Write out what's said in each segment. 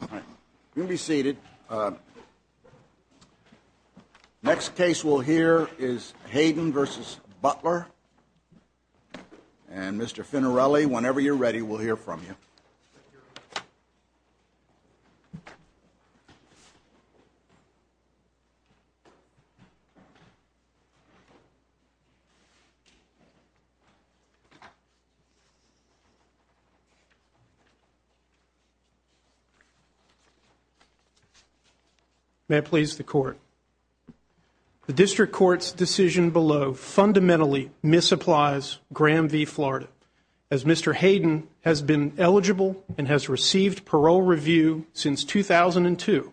All right. You can be seated. Next case we'll hear is Hayden v. Butler. And Mr. Finarelli, whenever you're ready, we'll hear from you. May it please the court. The district court's decision below fundamentally misapplies Graham v. Florida. As Mr. Hayden has been eligible and has received parole review since 2002,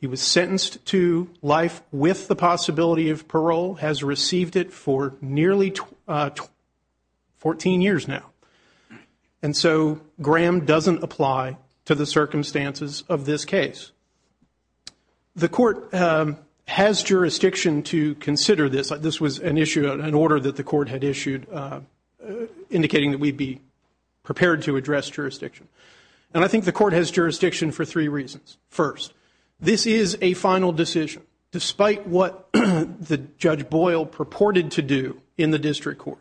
he was sentenced to life with the possibility of parole, has received it for nearly 14 years now. And so Graham doesn't apply to the circumstances of this case. The court has jurisdiction to consider this. This was an issue, an order that the court had issued indicating that we'd be prepared to address jurisdiction. And I think the court has jurisdiction for three reasons. First, this is a final decision. Despite what Judge Boyle purported to do in the district court,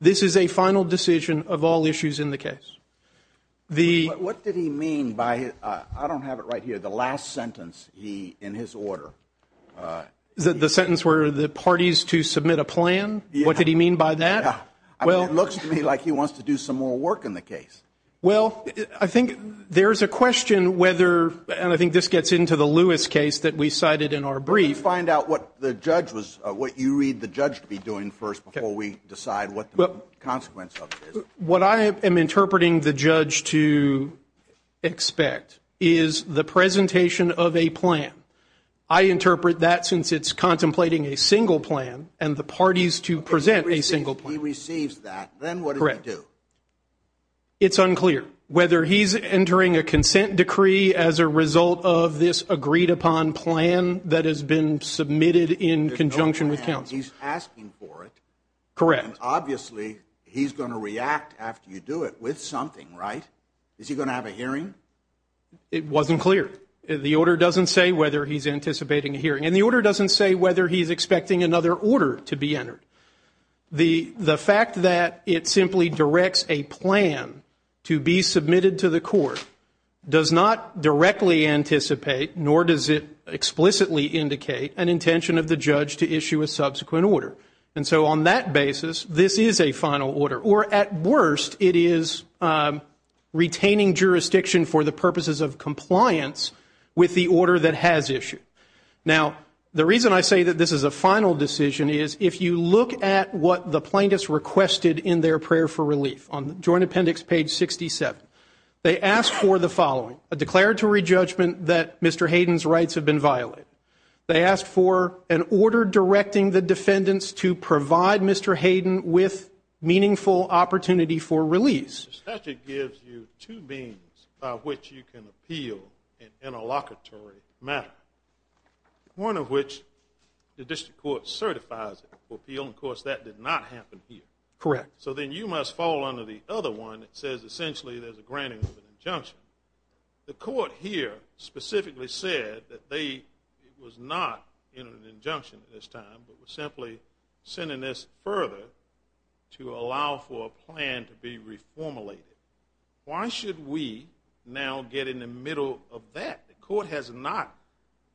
this is a final decision of all issues in the case. What did he mean by, I don't have it right here, the last sentence in his order? The sentence where the parties to submit a plan? What did he mean by that? It looks to me like he wants to do some more work in the case. Well, I think there's a question whether, and I think this gets into the Lewis case that we cited in our brief. Let me find out what the judge was, what you read the judge to be doing first before we decide what the consequence of it is. What I am interpreting the judge to expect is the presentation of a plan. I interpret that since it's contemplating a single plan and the parties to present a single plan. If he receives that, then what does he do? It's unclear whether he's entering a consent decree as a result of this agreed upon plan that has been submitted in conjunction with counsel. He's asking for it. Correct. Obviously, he's going to react after you do it with something, right? Is he going to have a hearing? It wasn't clear. The order doesn't say whether he's anticipating a hearing and the order doesn't say whether he's expecting another order to be entered. The fact that it simply directs a plan to be submitted to the court does not directly anticipate, nor does it explicitly indicate an intention of the judge to issue a subsequent order. And so on that basis, this is a final order. Or at worst, it is retaining jurisdiction for the purposes of compliance with the order that has issued. Now, the reason I say that this is a final decision is if you look at what the plaintiffs requested in their prayer for relief, on Joint Appendix page 67, they asked for the following, a declaratory judgment that Mr. Hayden's rights have been violated. They asked for an order directing the defendants to provide Mr. Hayden with meaningful opportunity for release. The statute gives you two means by which you can appeal an interlocutory matter, one of which the district court certifies it for appeal. Of course, that did not happen here. Correct. So then you must fall under the other one that says essentially there's a granting of an injunction. The court here specifically said that it was not in an injunction at this time, but was simply sending this further to allow for a plan to be reformulated. Why should we now get in the middle of that? The court has not.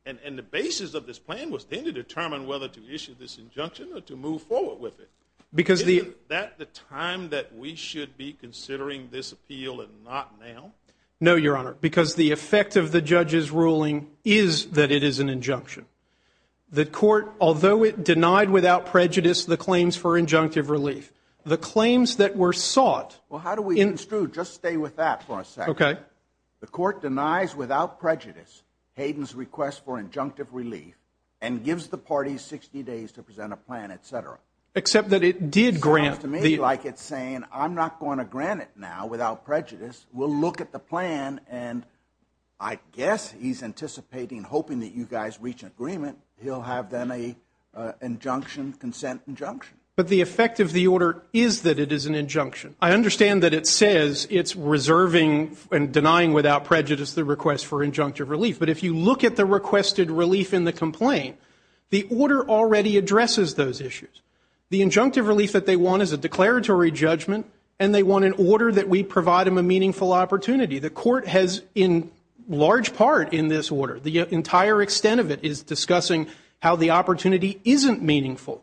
And the basis of this plan was then to determine whether to issue this injunction or to move forward with it. Isn't that the time that we should be considering this appeal and not now? No, Your Honor, because the effect of the judge's ruling is that it is an injunction. The court, although it denied without prejudice the claims for injunctive relief, the claims that were sought. Well, how do we? It's true. Just stay with that for a second. Okay. The court denies without prejudice Hayden's request for injunctive relief and gives the party 60 days to present a plan, et cetera. Except that it did grant. Sounds to me like it's saying I'm not going to grant it now without prejudice. We'll look at the plan and I guess he's anticipating, hoping that you guys reach an agreement. He'll have them a injunction, consent injunction. But the effect of the order is that it is an injunction. I understand that it says it's reserving and denying without prejudice the request for injunctive relief. But if you look at the requested relief in the complaint, the order already addresses those issues. The injunctive relief that they want is a declaratory judgment and they want an order that we provide them a meaningful opportunity. The court has in large part in this order, the entire extent of it is discussing how the opportunity isn't meaningful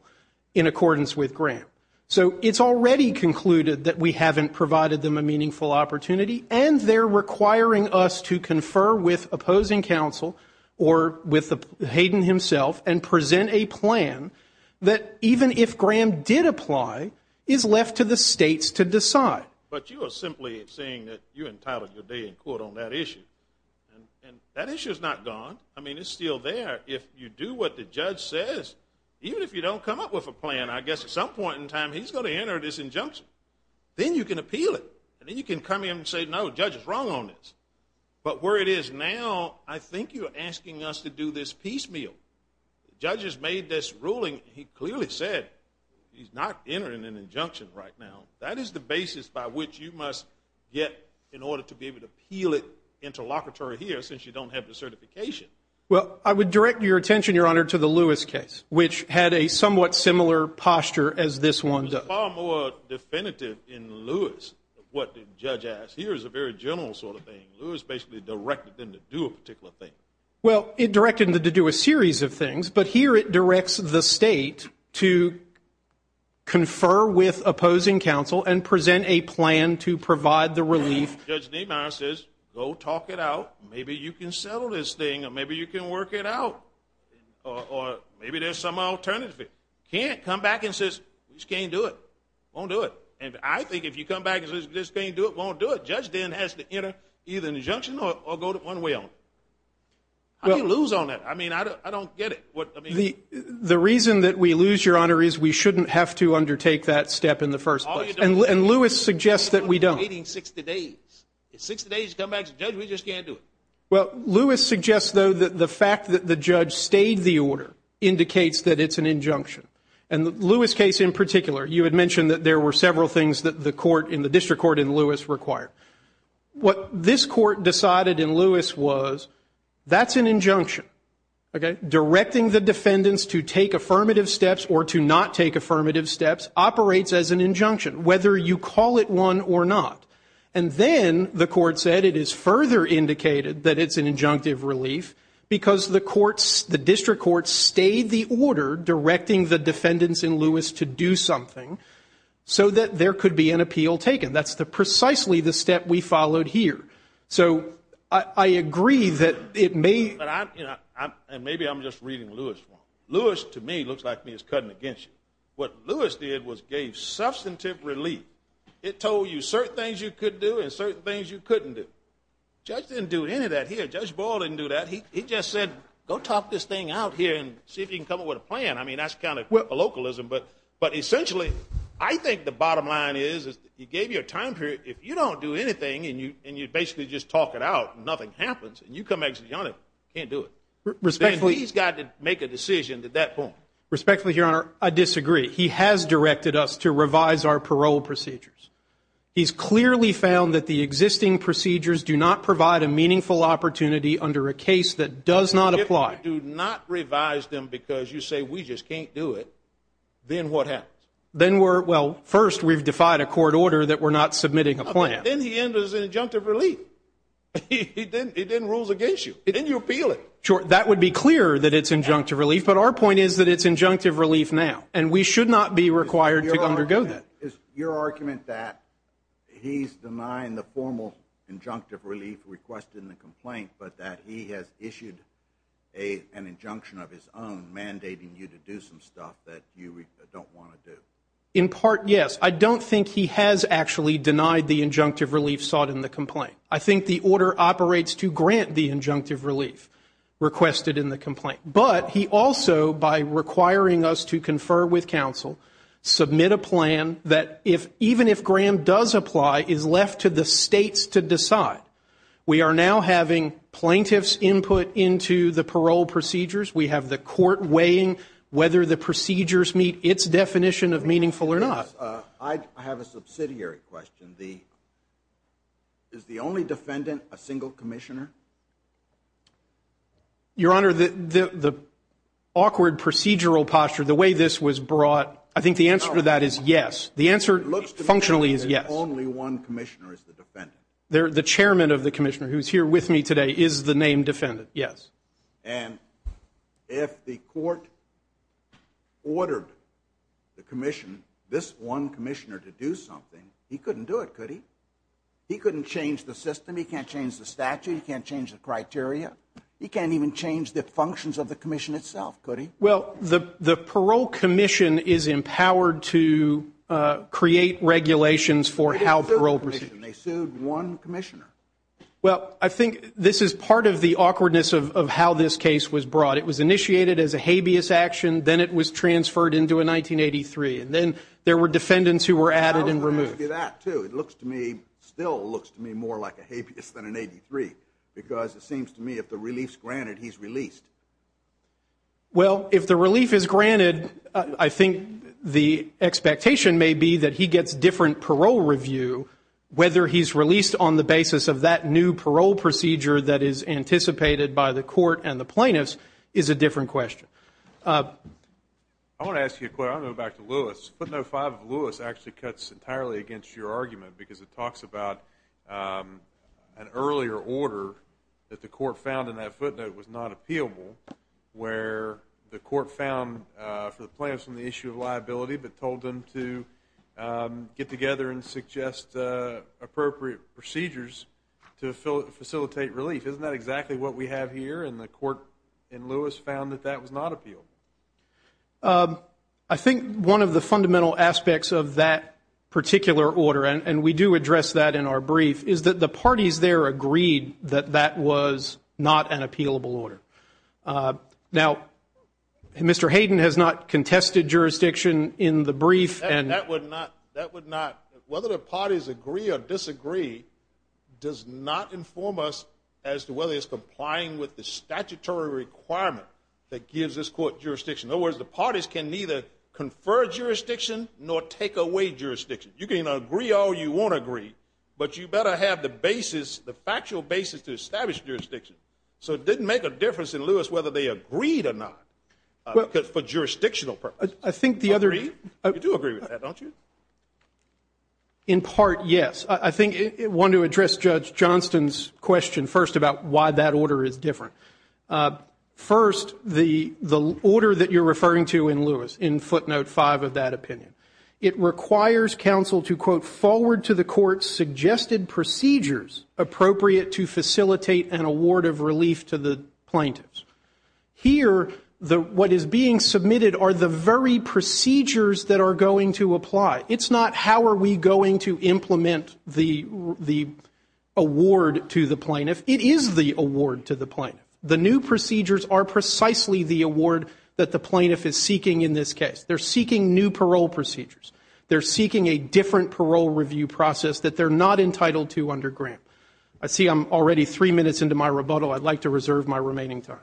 in accordance with grant. So it's already concluded that we haven't provided them a meaningful opportunity. And they're requiring us to confer with opposing counsel or with Hayden himself and present a plan that even if Graham did apply, is left to the states to decide. But you are simply saying that you entitled your day in court on that issue. And that issue is not gone. I mean, it's still there. If you do what the judge says, even if you don't come up with a plan, I guess at some point in time he's going to enter this injunction. Then you can appeal it. And then you can come in and say, no, the judge is wrong on this. But where it is now, I think you're asking us to do this piecemeal. The judge has made this ruling. He clearly said he's not entering an injunction right now. That is the basis by which you must get in order to be able to appeal it interlocutory here since you don't have the certification. Well, I would direct your attention, Your Honor, to the Lewis case, which had a somewhat similar posture as this one does. It's far more definitive in Lewis what the judge asked. Here is a very general sort of thing. Lewis basically directed them to do a particular thing. Well, it directed them to do a series of things. But here it directs the state to confer with opposing counsel and present a plan to provide the relief. Judge Niemeyer says, go talk it out. Maybe you can settle this thing. Or maybe you can work it out. Or maybe there's some alternative. You can't come back and say, we just can't do it. Won't do it. And I think if you come back and say, we just can't do it, won't do it, judge then has to enter either an injunction or go one way on it. How do you lose on that? I mean, I don't get it. The reason that we lose, Your Honor, is we shouldn't have to undertake that step in the first place. And Lewis suggests that we don't. Waiting 60 days. If 60 days come back to the judge, we just can't do it. Well, Lewis suggests, though, that the fact that the judge stayed the order indicates that it's an injunction. And Lewis' case in particular, you had mentioned that there were several things that the court, in the district court in Lewis, required. What this court decided in Lewis was that's an injunction. Directing the defendants to take affirmative steps or to not take affirmative steps operates as an injunction, whether you call it one or not. And then the court said it is further indicated that it's an injunctive relief because the courts, the district courts stayed the order directing the defendants in Lewis to do something so that there could be an appeal taken. That's precisely the step we followed here. So I agree that it may. And maybe I'm just reading Lewis wrong. Lewis, to me, looks like he's cutting against you. What Lewis did was gave substantive relief. It told you certain things you could do and certain things you couldn't do. The judge didn't do any of that here. Judge Boyle didn't do that. He just said, go talk this thing out here and see if you can come up with a plan. I mean, that's kind of localism. But essentially, I think the bottom line is he gave you a time period. If you don't do anything and you basically just talk it out and nothing happens, and you come out and you can't do it, then he's got to make a decision at that point. Respectfully, Your Honor, I disagree. He has directed us to revise our parole procedures. He's clearly found that the existing procedures do not provide a meaningful opportunity under a case that does not apply. If you do not revise them because you say we just can't do it, then what happens? Then we're, well, first we've defied a court order that we're not submitting a plan. Then he enters an injunctive relief. He then rules against you. Then you appeal it. Sure, that would be clear that it's injunctive relief. But our point is that it's injunctive relief now. And we should not be required to undergo that. Is your argument that he's denying the formal injunctive relief requested in the complaint, but that he has issued an injunction of his own mandating you to do some stuff that you don't want to do? In part, yes. I don't think he has actually denied the injunctive relief sought in the complaint. I think the order operates to grant the injunctive relief requested in the complaint. But he also, by requiring us to confer with counsel, submit a plan that even if Graham does apply is left to the states to decide. We are now having plaintiff's input into the parole procedures. We have the court weighing whether the procedures meet its definition of meaningful or not. I have a subsidiary question. Is the only defendant a single commissioner? Your Honor, the awkward procedural posture, the way this was brought, I think the answer to that is yes. The answer functionally is yes. It looks to me as if only one commissioner is the defendant. The chairman of the commissioner who is here with me today is the named defendant, yes. And if the court ordered the commission, this one commissioner, to do something, he couldn't do it, could he? He couldn't change the system. He can't change the statute. He can't change the criteria. He can't even change the functions of the commission itself, could he? Well, the parole commission is empowered to create regulations for how parole procedures. They sued one commissioner. Well, I think this is part of the awkwardness of how this case was brought. It was initiated as a habeas action. Then it was transferred into a 1983. And then there were defendants who were added and removed. It still looks to me more like a habeas than an 83 because it seems to me if the relief is granted, he's released. Well, if the relief is granted, I think the expectation may be that he gets different parole review. Whether he's released on the basis of that new parole procedure that is anticipated by the court and the plaintiffs is a different question. I want to ask you a question. I want to go back to Lewis. Footnote 5 of Lewis actually cuts entirely against your argument because it talks about an earlier order that the court found in that footnote was not appealable where the court found for the plaintiffs on the issue of liability but told them to get together and suggest appropriate procedures to facilitate relief. Isn't that exactly what we have here? And the court in Lewis found that that was not appealable. I think one of the fundamental aspects of that particular order, and we do address that in our brief, is that the parties there agreed that that was not an appealable order. Now, Mr. Hayden has not contested jurisdiction in the brief. That would not. Whether the parties agree or disagree does not inform us as to whether it's complying with the statutory requirement that gives this court jurisdiction. In other words, the parties can neither confer jurisdiction nor take away jurisdiction. You can agree or you won't agree, but you better have the basis, the factual basis to establish jurisdiction. So it didn't make a difference in Lewis whether they agreed or not for jurisdictional purposes. You do agree with that, don't you? In part, yes. I think I want to address Judge Johnston's question first about why that order is different. First, the order that you're referring to in Lewis, in footnote 5 of that opinion, it requires counsel to, quote, forward to the court suggested procedures appropriate to facilitate an award of relief to the plaintiffs. Here, what is being submitted are the very procedures that are going to apply. It's not how are we going to implement the award to the plaintiff. It is the award to the plaintiff. The new procedures are precisely the award that the plaintiff is seeking in this case. They're seeking new parole procedures. They're seeking a different parole review process that they're not entitled to under Graham. I see I'm already three minutes into my rebuttal. I'd like to reserve my remaining time.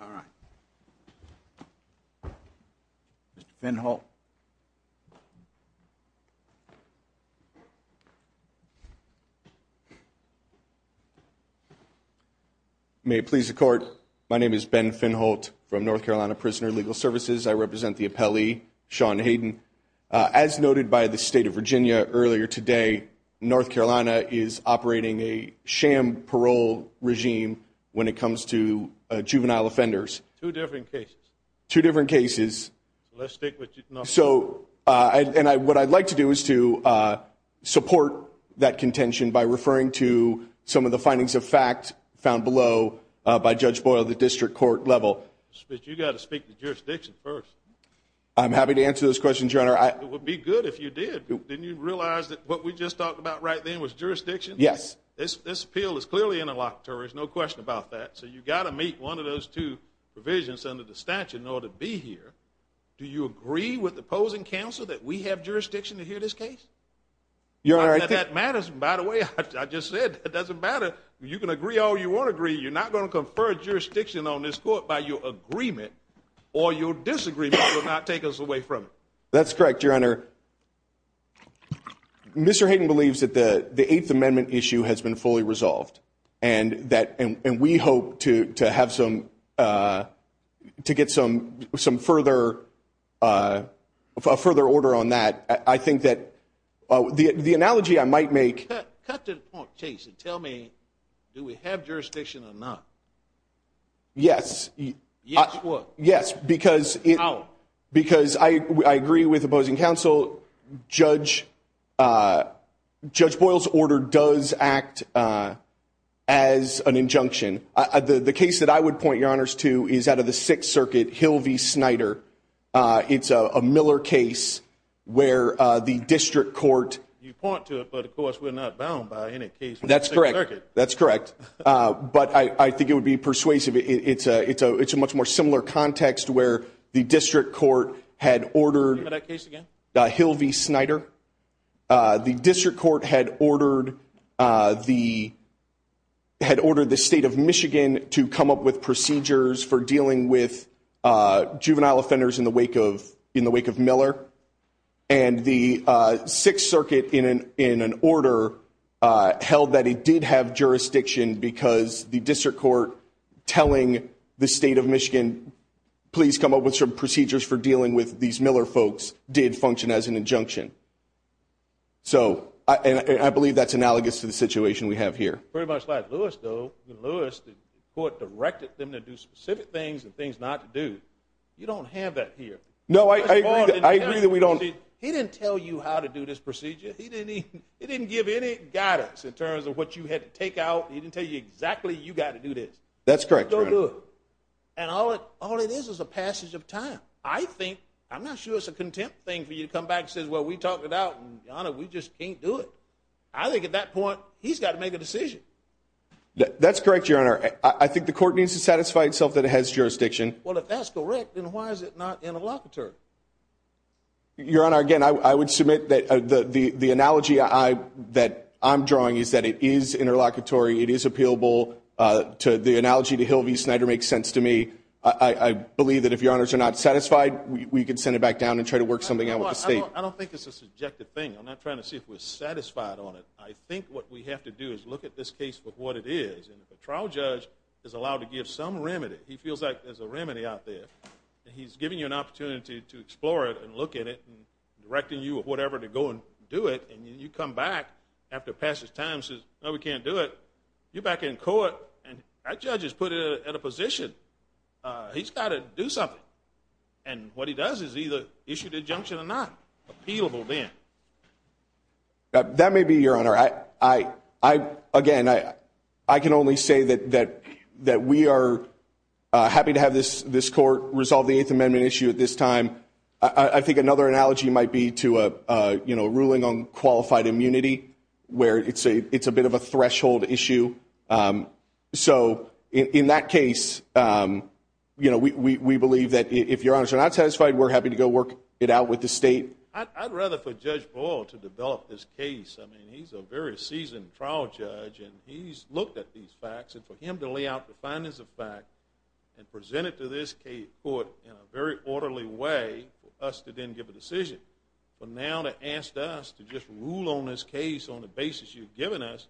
All right. Mr. Finholt. May it please the Court, my name is Ben Finholt from North Carolina Prisoner Legal Services. I represent the appellee, Sean Hayden. As noted by the State of Virginia earlier today, North Carolina is operating a sham parole regime when it comes to juvenile offenders. Two different cases. Two different cases. So let's stick with North Carolina. And what I'd like to do is to support that contention by referring to some of the findings of fact found below by Judge Boyle at the district court level. But you've got to speak to jurisdiction first. I'm happy to answer those questions, Your Honor. It would be good if you did. Didn't you realize that what we just talked about right then was jurisdiction? Yes. This appeal is clearly interlocutory. There's no question about that. So you've got to meet one of those two provisions under the statute in order to be here. Do you agree with opposing counsel that we have jurisdiction to hear this case? Your Honor, I think. That matters, by the way. I just said it doesn't matter. You can agree all you want to agree. You're not going to confer jurisdiction on this court by your agreement or your disagreement will not take us away from it. That's correct, Your Honor. Mr. Hayden believes that the Eighth Amendment issue has been fully resolved. And we hope to get some further order on that. I think that the analogy I might make. Cut to the point, Jason. Tell me, do we have jurisdiction or not? Yes. Yes, what? Yes, because I agree with opposing counsel. Judge Boyle's order does act as an injunction. The case that I would point your honors to is out of the Sixth Circuit, Hilvey-Snyder. It's a Miller case where the district court. You point to it, but, of course, we're not bound by any case from the Sixth Circuit. That's correct. But I think it would be persuasive. It's a much more similar context where the district court had ordered Hilvey-Snyder. The district court had ordered the State of Michigan to come up with procedures for dealing with juvenile offenders in the wake of Miller. And the Sixth Circuit, in an order, held that it did have jurisdiction because the district court telling the State of Michigan, please come up with some procedures for dealing with these Miller folks did function as an injunction. So, and I believe that's analogous to the situation we have here. Pretty much like Lewis, though. Lewis, the court directed them to do specific things and things not to do. You don't have that here. No, I agree that we don't. He didn't tell you how to do this procedure. He didn't give any guidance in terms of what you had to take out. He didn't tell you exactly you got to do this. That's correct, Your Honor. And all it is is a passage of time. I think, I'm not sure it's a contempt thing for you to come back and say, well, we talked it out, and, Your Honor, we just can't do it. I think at that point, he's got to make a decision. That's correct, Your Honor. I think the court needs to satisfy itself that it has jurisdiction. Well, if that's correct, then why is it not interlocutory? Your Honor, again, I would submit that the analogy that I'm drawing is that it is interlocutory. It is appealable. The analogy to Hill v. Snyder makes sense to me. I believe that if Your Honors are not satisfied, we can send it back down and try to work something out with the state. I don't think it's a subjective thing. I'm not trying to see if we're satisfied on it. I think what we have to do is look at this case for what it is. And if a trial judge is allowed to give some remedy, he feels like there's a remedy out there, and he's giving you an opportunity to explore it and look at it and directing you or whatever to go and do it, and you come back after passage of time and say, no, we can't do it, you're back in court, and that judge has put it at a position. He's got to do something. And what he does is either issue the injunction or not. Appealable then. That may be, Your Honor. Again, I can only say that we are happy to have this court resolve the Eighth Amendment issue at this time. I think another analogy might be to a ruling on qualified immunity where it's a bit of a threshold issue. So in that case, we believe that if Your Honors are not satisfied, we're happy to go work it out with the state. I'd rather for Judge Boyle to develop this case. I mean, he's a very seasoned trial judge, and he's looked at these facts, and for him to lay out the findings of fact and present it to this court in a very orderly way for us to then give a decision, but now to ask us to just rule on this case on the basis you've given us,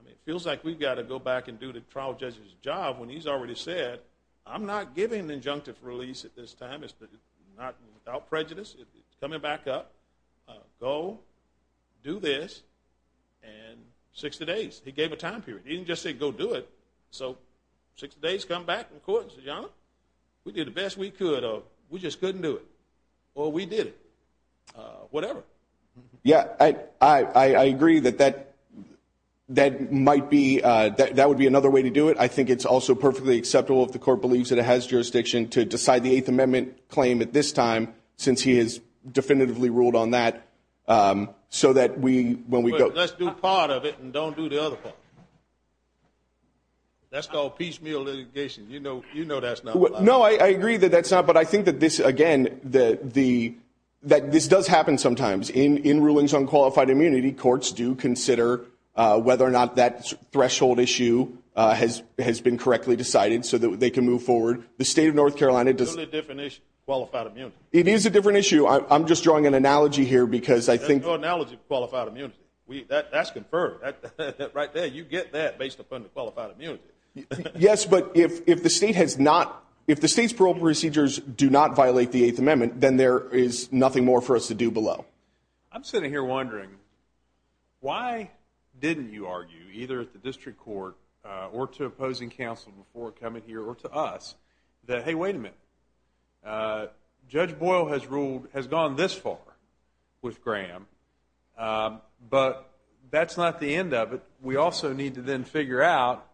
I mean, it feels like we've got to go back and do the trial judge's job when he's already said, I'm not giving an injunctive release at this time. It's not without prejudice. It's coming back up. Go. Do this. And 60 days. He gave a time period. He didn't just say go do it. So 60 days, come back in court and say, Your Honor, we did the best we could, or we just couldn't do it. Or we did it. Whatever. Yeah, I agree that that might be another way to do it. I think it's also perfectly acceptable, if the court believes that it has jurisdiction, to decide the Eighth Amendment claim at this time, since he has definitively ruled on that, so that when we go. Let's do part of it and don't do the other part. That's called piecemeal litigation. You know that's not allowed. No, I agree that that's not, but I think that this, again, that this does happen sometimes. In rulings on qualified immunity, courts do consider whether or not that threshold issue has been correctly decided, so that they can move forward. The state of North Carolina does. It's a totally different issue, qualified immunity. It is a different issue. I'm just drawing an analogy here because I think. There's no analogy for qualified immunity. That's confirmed. Right there, you get that based upon the qualified immunity. Yes, but if the state has not, if the state's parole procedures do not violate the Eighth Amendment, then there is nothing more for us to do below. I'm sitting here wondering, why didn't you argue, either at the district court or to opposing counsel before coming here, or to us, that, hey, wait a minute, Judge Boyle has gone this far with Graham, but that's not the end of it. We also need to then figure out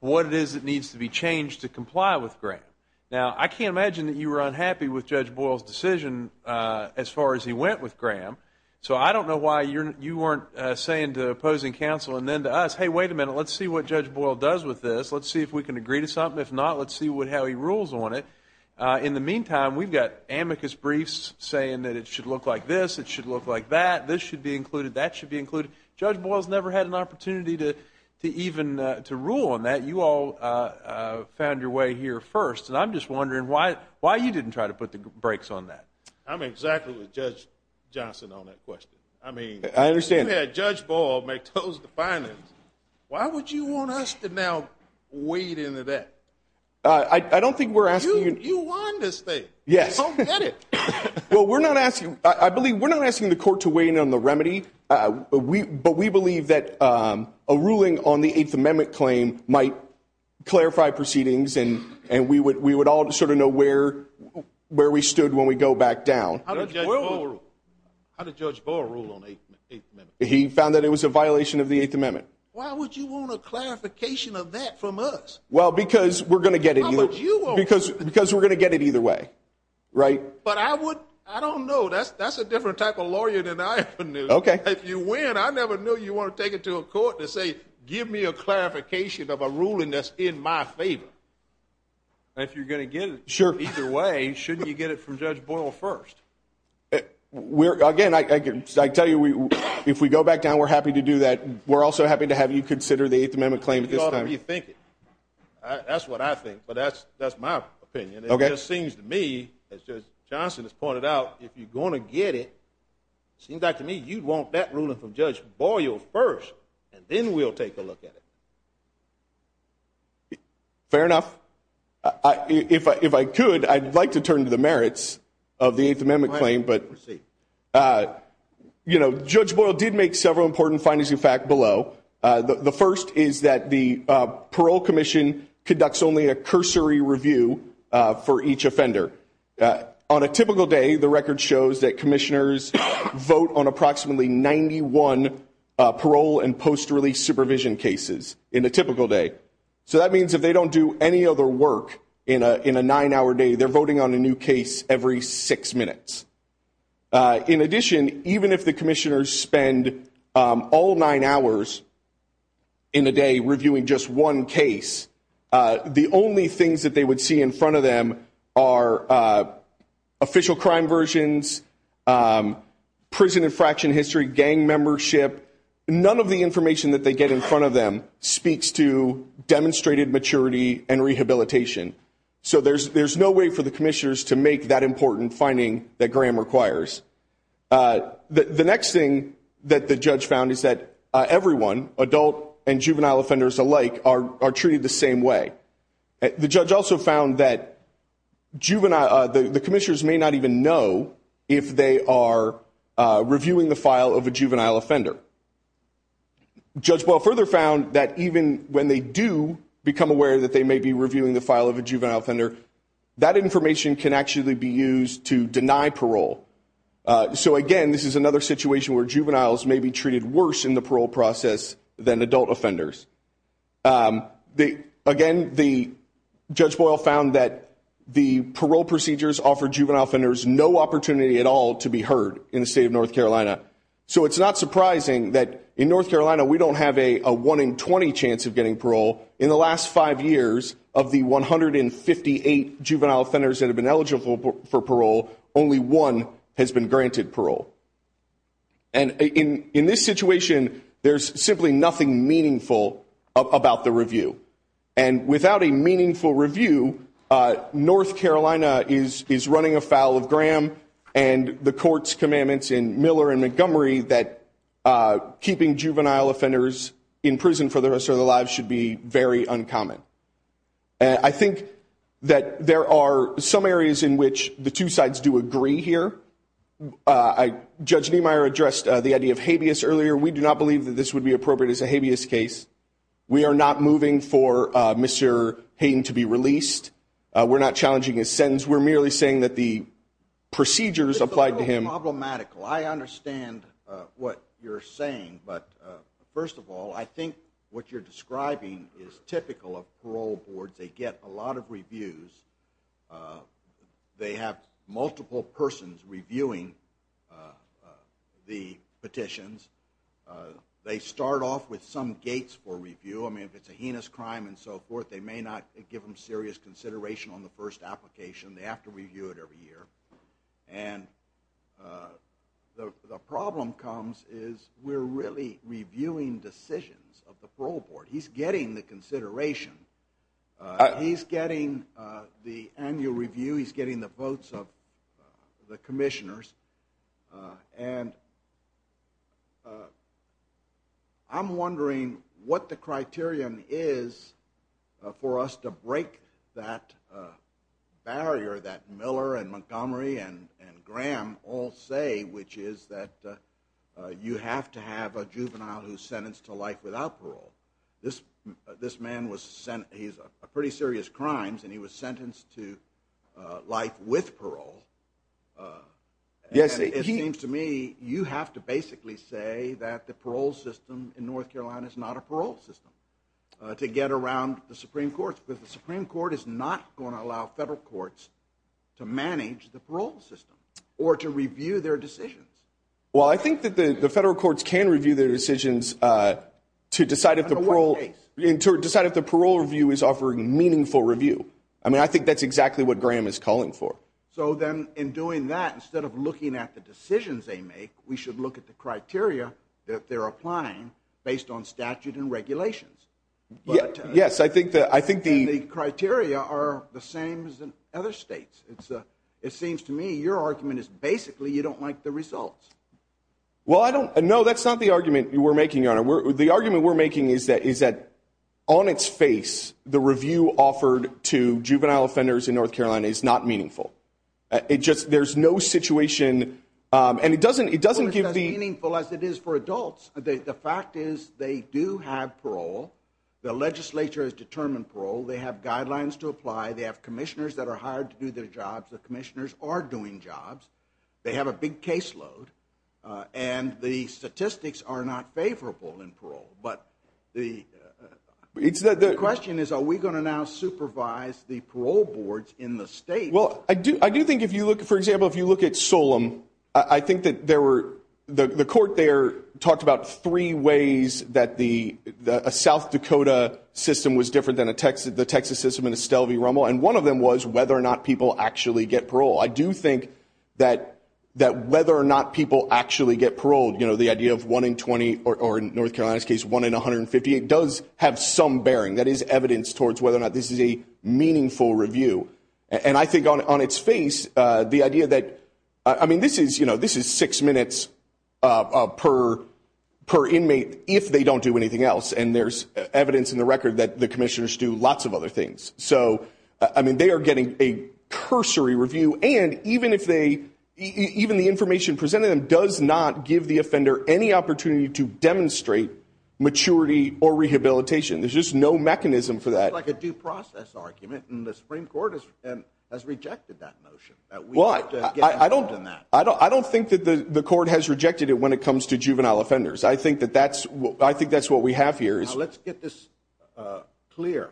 what it is that needs to be changed to comply with Graham. Now, I can't imagine that you were unhappy with Judge Boyle's decision as far as he went with Graham, so I don't know why you weren't saying to opposing counsel and then to us, hey, wait a minute, let's see what Judge Boyle does with this. Let's see if we can agree to something. If not, let's see how he rules on it. In the meantime, we've got amicus briefs saying that it should look like this. This should be included. That should be included. Judge Boyle has never had an opportunity to even rule on that. You all found your way here first, and I'm just wondering why you didn't try to put the brakes on that. I'm exactly with Judge Johnson on that question. I understand. If you had Judge Boyle make toast to finance, why would you want us to now wade into that? I don't think we're asking you. You want this thing. Yes. Don't get it. Well, we're not asking. I believe we're not asking the court to wade in on the remedy. But we believe that a ruling on the Eighth Amendment claim might clarify proceedings, and we would all sort of know where we stood when we go back down. How did Judge Boyle rule on the Eighth Amendment? He found that it was a violation of the Eighth Amendment. Why would you want a clarification of that from us? Well, because we're going to get it either way. But I don't know. That's a different type of lawyer than I am. If you win, I never knew you want to take it to a court and say, give me a clarification of a ruling that's in my favor. If you're going to get it either way, shouldn't you get it from Judge Boyle first? Again, I tell you, if we go back down, we're happy to do that. We're also happy to have you consider the Eighth Amendment claim at this time. That's what I think. But that's my opinion. And it just seems to me, as Judge Johnson has pointed out, if you're going to get it, it seems like to me you'd want that ruling from Judge Boyle first, and then we'll take a look at it. Fair enough. If I could, I'd like to turn to the merits of the Eighth Amendment claim. Judge Boyle did make several important findings, in fact, below. The first is that the parole commission conducts only a cursory review for each offender. On a typical day, the record shows that commissioners vote on approximately 91 parole and post-release supervision cases in a typical day. So that means if they don't do any other work in a nine-hour day, they're voting on a new case every six minutes. In addition, even if the commissioners spend all nine hours in a day reviewing just one case, the only things that they would see in front of them are official crime versions, prison infraction history, gang membership. None of the information that they get in front of them speaks to demonstrated maturity and rehabilitation. So there's no way for the commissioners to make that important finding that Graham requires. The next thing that the judge found is that everyone, adult and juvenile offenders alike, are treated the same way. The judge also found that the commissioners may not even know if they are reviewing the file of a juvenile offender. Judge Boyle further found that even when they do become aware that they may be reviewing the file of a juvenile offender, that information can actually be used to deny parole. So again, this is another situation where juveniles may be treated worse in the parole process than adult offenders. Again, Judge Boyle found that the parole procedures offer juvenile offenders no opportunity at all to be heard in the state of North Carolina. So it's not surprising that in North Carolina we don't have a 1 in 20 chance of getting parole. In the last five years of the 158 juvenile offenders that have been eligible for parole, only one has been granted parole. And in this situation, there's simply nothing meaningful about the review. And without a meaningful review, North Carolina is running afoul of Graham and the court's commandments in Miller and Montgomery that keeping juvenile offenders in prison for the rest of their lives should be very uncommon. I think that there are some areas in which the two sides do agree here. Judge Niemeyer addressed the idea of habeas earlier. We do not believe that this would be appropriate as a habeas case. We are not moving for Mr. Hayden to be released. We're not challenging his sentence. We're merely saying that the procedures applied to him. This is a little problematical. I understand what you're saying. But first of all, I think what you're describing is typical of parole boards. They get a lot of reviews. They have multiple persons reviewing the petitions. They start off with some gates for review. I mean, if it's a heinous crime and so forth, they may not give them serious consideration on the first application. They have to review it every year. And the problem comes is we're really reviewing decisions of the parole board. He's getting the consideration. He's getting the annual review. He's getting the votes of the commissioners. And I'm wondering what the criterion is for us to break that barrier that Miller and Montgomery and Graham all say, which is that you have to have a juvenile who's sentenced to life without parole. This man was sentenced. He's a pretty serious crime, and he was sentenced to life with parole. It seems to me you have to basically say that the parole system in North Carolina is not a parole system to get around the Supreme Court, because the Supreme Court is not going to allow federal courts to manage the parole system or to review their decisions. Well, I think that the federal courts can review their decisions to decide if the parole review is offering meaningful review. I mean, I think that's exactly what Graham is calling for. So then in doing that, instead of looking at the decisions they make, we should look at the criteria that they're applying based on statute and regulations. Yes, I think the criteria are the same as in other states. It seems to me your argument is basically you don't like the results. Well, I don't. No, that's not the argument we're making, Your Honor. The argument we're making is that on its face, the review offered to juvenile offenders in North Carolina is not meaningful. There's no situation, and it doesn't give the- Well, it's not as meaningful as it is for adults. The fact is they do have parole. The legislature has determined parole. They have guidelines to apply. They have commissioners that are hired to do their jobs. The commissioners are doing jobs. They have a big caseload. And the statistics are not favorable in parole. But the question is are we going to now supervise the parole boards in the state? Well, I do think if you look, for example, if you look at Solemn, I think that there were-the court there talked about three ways that a South Dakota system was different than the Texas system in Estelle v. Rummel. And one of them was whether or not people actually get parole. I do think that whether or not people actually get parole, you know, the idea of one in 20 or, in North Carolina's case, one in 150, it does have some bearing. That is evidence towards whether or not this is a meaningful review. And I think on its face, the idea that-I mean, this is, you know, this is six minutes per inmate if they don't do anything else. And there's evidence in the record that the commissioners do lots of other things. So, I mean, they are getting a cursory review. And even if they-even the information presented to them does not give the offender any opportunity to demonstrate maturity or rehabilitation. There's just no mechanism for that. It's like a due process argument, and the Supreme Court has rejected that notion that we have to get involved in that. I don't think that the court has rejected it when it comes to juvenile offenders. I think that that's-I think that's what we have here. Now, let's get this clear.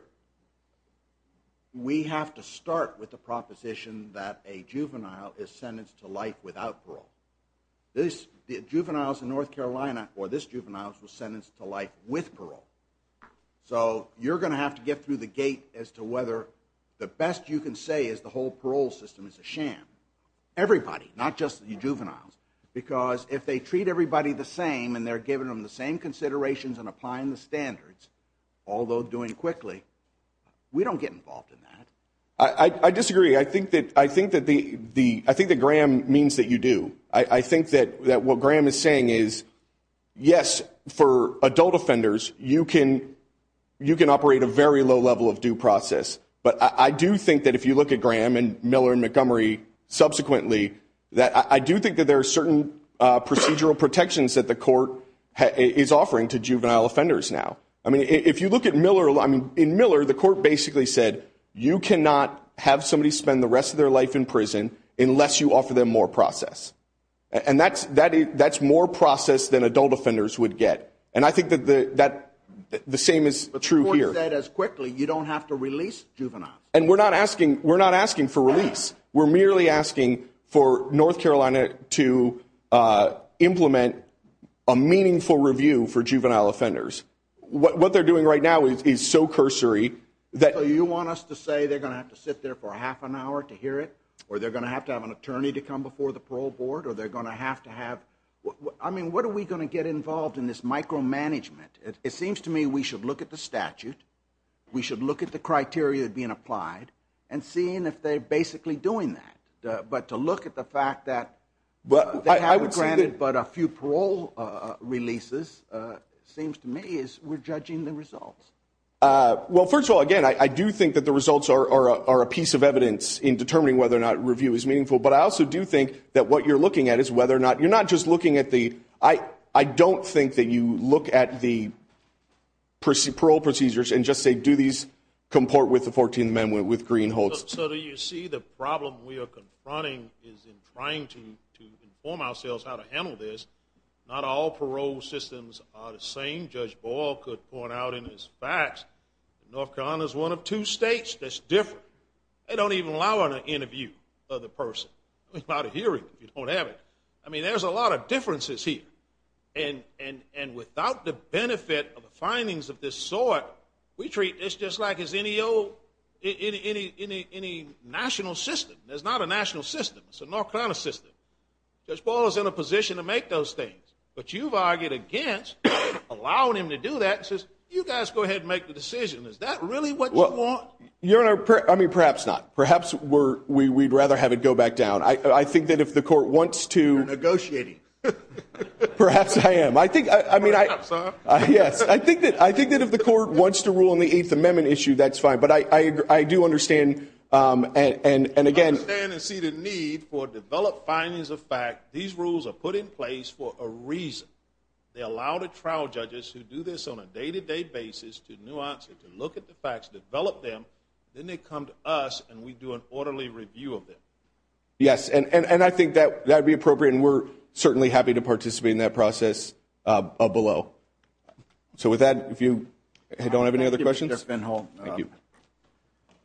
We have to start with the proposition that a juvenile is sentenced to life without parole. This-the juveniles in North Carolina, or this juvenile, was sentenced to life with parole. So you're going to have to get through the gate as to whether the best you can say is the whole parole system is a sham. Everybody, not just the juveniles. Because if they treat everybody the same and they're giving them the same considerations and applying the standards, although doing quickly, we don't get involved in that. I disagree. I think that the-I think that Graham means that you do. I think that what Graham is saying is, yes, for adult offenders, you can operate a very low level of due process. But I do think that if you look at Graham and Miller and Montgomery subsequently, that I do think that there are certain procedural protections that the court is offering to juvenile offenders now. I mean, if you look at Miller-I mean, in Miller, the court basically said, you cannot have somebody spend the rest of their life in prison unless you offer them more process. And that's more process than adult offenders would get. And I think that the same is true here. The court said as quickly, you don't have to release juveniles. And we're not asking-we're not asking for release. We're merely asking for North Carolina to implement a meaningful review for juvenile offenders. What they're doing right now is so cursory that- So you want us to say they're going to have to sit there for half an hour to hear it? Or they're going to have to have an attorney to come before the parole board? Or they're going to have to have-I mean, what are we going to get involved in this micromanagement? It seems to me we should look at the statute. We should look at the criteria being applied and seeing if they're basically doing that. But to look at the fact that they haven't granted but a few parole releases seems to me as we're judging the results. Well, first of all, again, I do think that the results are a piece of evidence in determining whether or not review is meaningful. But I also do think that what you're looking at is whether or not-you're not just looking at the- parole procedures and just say, do these comport with the 14th Amendment, with greenholds? So do you see the problem we are confronting is in trying to inform ourselves how to handle this? Not all parole systems are the same. Judge Boyle could point out in his facts that North Carolina is one of two states that's different. They don't even allow an interview of the person without a hearing. You don't have it. I mean, there's a lot of differences here. And without the benefit of the findings of this sort, we treat this just like any old-any national system. There's not a national system. It's a North Carolina system. Judge Boyle is in a position to make those things. But you've argued against allowing him to do that and says, you guys go ahead and make the decision. Is that really what you want? Your Honor, I mean, perhaps not. Perhaps we'd rather have it go back down. I think that if the court wants to- Perhaps I am. Yes, I think that if the court wants to rule on the Eighth Amendment issue, that's fine. But I do understand, and again- I understand and see the need for developed findings of fact. These rules are put in place for a reason. They allow the trial judges who do this on a day-to-day basis to nuance it, to look at the facts, develop them. Then they come to us, and we do an orderly review of them. Yes, and I think that would be appropriate. And we're certainly happy to participate in that process below. So with that, if you don't have any other questions- Thank you, Mr. Finholm. Thank you.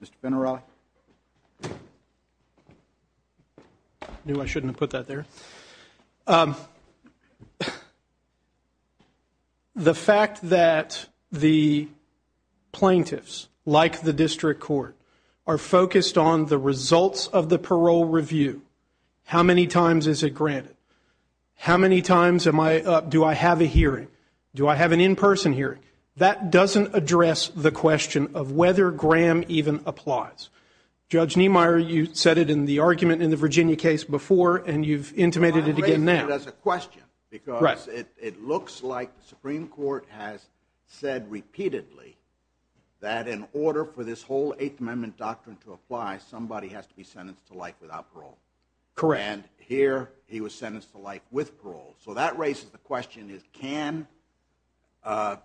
Mr. Finarale. I knew I shouldn't have put that there. The fact that the plaintiffs, like the district court, are focused on the results of the parole review. How many times is it granted? How many times do I have a hearing? Do I have an in-person hearing? That doesn't address the question of whether Graham even applies. Judge Niemeyer, you said it in the argument in the Virginia case before, and you've intimated it again now. Well, I'm raising it as a question. Because it looks like the Supreme Court has said repeatedly that in order for this whole Eighth Amendment doctrine to apply, somebody has to be sentenced to life without parole. And here, he was sentenced to life with parole. So that raises the question, can a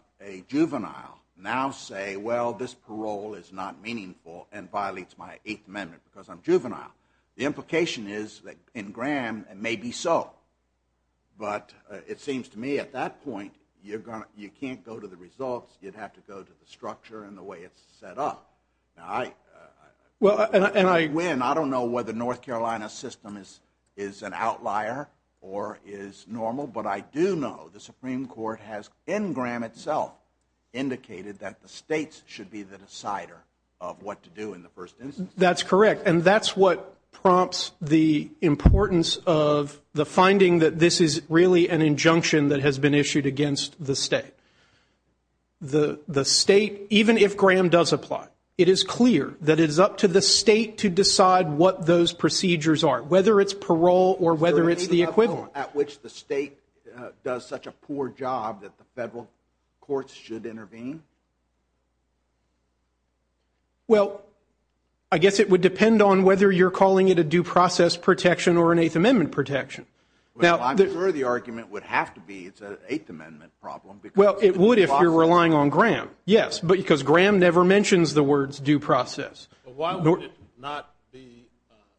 juvenile now say, well, this parole is not meaningful and violates my Eighth Amendment because I'm juvenile? The implication is that in Graham, it may be so. But it seems to me at that point, you can't go to the results. You'd have to go to the structure and the way it's set up. And I win. I don't know whether North Carolina's system is an outlier or is normal. But I do know the Supreme Court has, in Graham itself, indicated that the states should be the decider of what to do in the first instance. That's correct. And that's what prompts the importance of the finding that this is really an injunction that has been issued against the state. The state, even if Graham does apply, it is clear that it is up to the state to decide what those procedures are, whether it's parole or whether it's the equivalent. Is there a legal level at which the state does such a poor job that the federal courts should intervene? Well, I guess it would depend on whether you're calling it a due process protection or an Eighth Amendment protection. I'm sure the argument would have to be it's an Eighth Amendment problem. Well, it would if you're relying on Graham, yes, because Graham never mentions the words due process. Why would it not be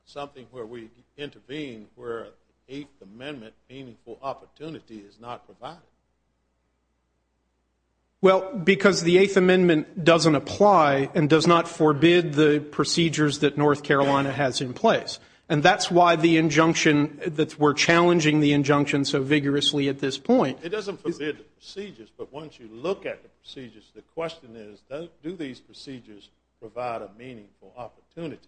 something where we intervene where an Eighth Amendment meaningful opportunity is not provided? Well, because the Eighth Amendment doesn't apply and does not forbid the procedures that North Carolina has in place. And that's why the injunction that we're challenging the injunction so vigorously at this point. It doesn't forbid the procedures. But once you look at the procedures, the question is, do these procedures provide a meaningful opportunity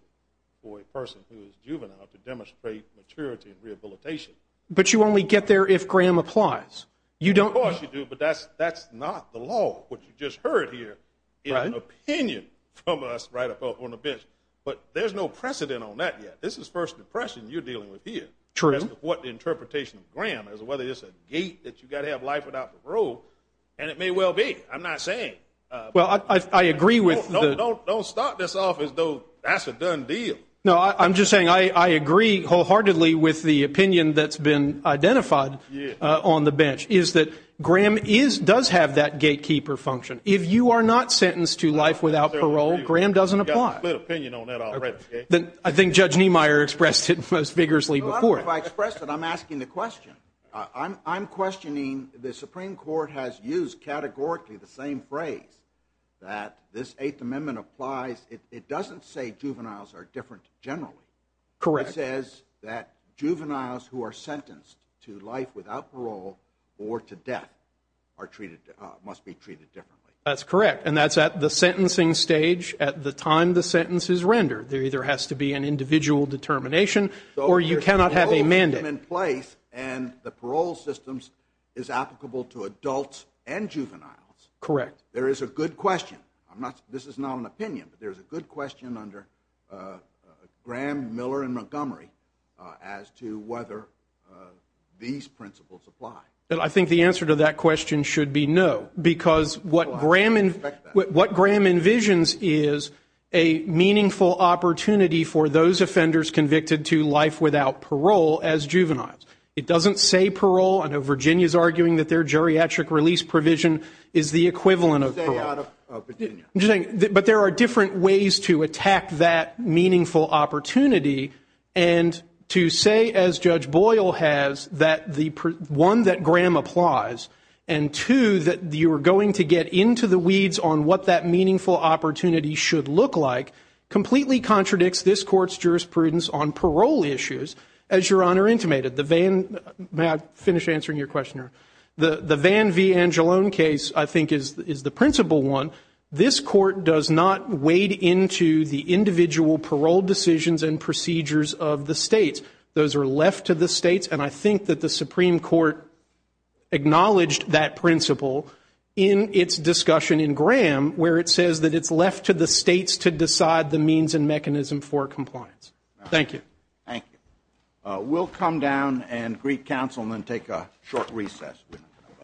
for a person who is juvenile to demonstrate maturity and rehabilitation? But you only get there if Graham applies. You don't. Of course you do, but that's not the law. What you just heard here is an opinion from us right up on the bench. But there's no precedent on that yet. This is First Depression you're dealing with here. True. What interpretation of Graham is whether it's a gate that you've got to have life without parole. And it may well be. I'm not saying. Well, I agree with. Don't start this off as though that's a done deal. No, I'm just saying I agree wholeheartedly with the opinion that's been identified on the bench is that Graham is does have that gatekeeper function. If you are not sentenced to life without parole. Graham doesn't apply. I think Judge Niemeyer expressed it most vigorously before. I'm asking the question. I'm questioning the Supreme Court has used categorically the same phrase that this Eighth Amendment applies. It doesn't say juveniles are different generally. Correct. It says that juveniles who are sentenced to life without parole or to death are treated must be treated differently. That's correct. And that's at the sentencing stage at the time the sentence is rendered. There either has to be an individual determination or you cannot have a mandate in place. And the parole systems is applicable to adults and juveniles. Correct. There is a good question. I'm not. This is not an opinion, but there is a good question under Graham, Miller and Montgomery as to whether these principles apply. And I think the answer to that question should be no, because what Graham and what Graham envisions is a meaningful opportunity for those offenders convicted to life without parole as juveniles. It doesn't say parole. I know Virginia is arguing that their geriatric release provision is the equivalent of out of Virginia. But there are different ways to attack that meaningful opportunity. And to say, as Judge Boyle has, that the one that Graham applies and two, that you are going to get into the weeds on what that meaningful opportunity should look like, completely contradicts this court's jurisprudence on parole issues. May I finish answering your question? The Van v. Angelone case, I think, is the principal one. This court does not wade into the individual parole decisions and procedures of the states. Those are left to the states. And I think that the Supreme Court acknowledged that principle in its discussion in Graham where it says that it's left to the states to decide the means and mechanism for compliance. Thank you. We'll come down and greet counsel and then take a short recess.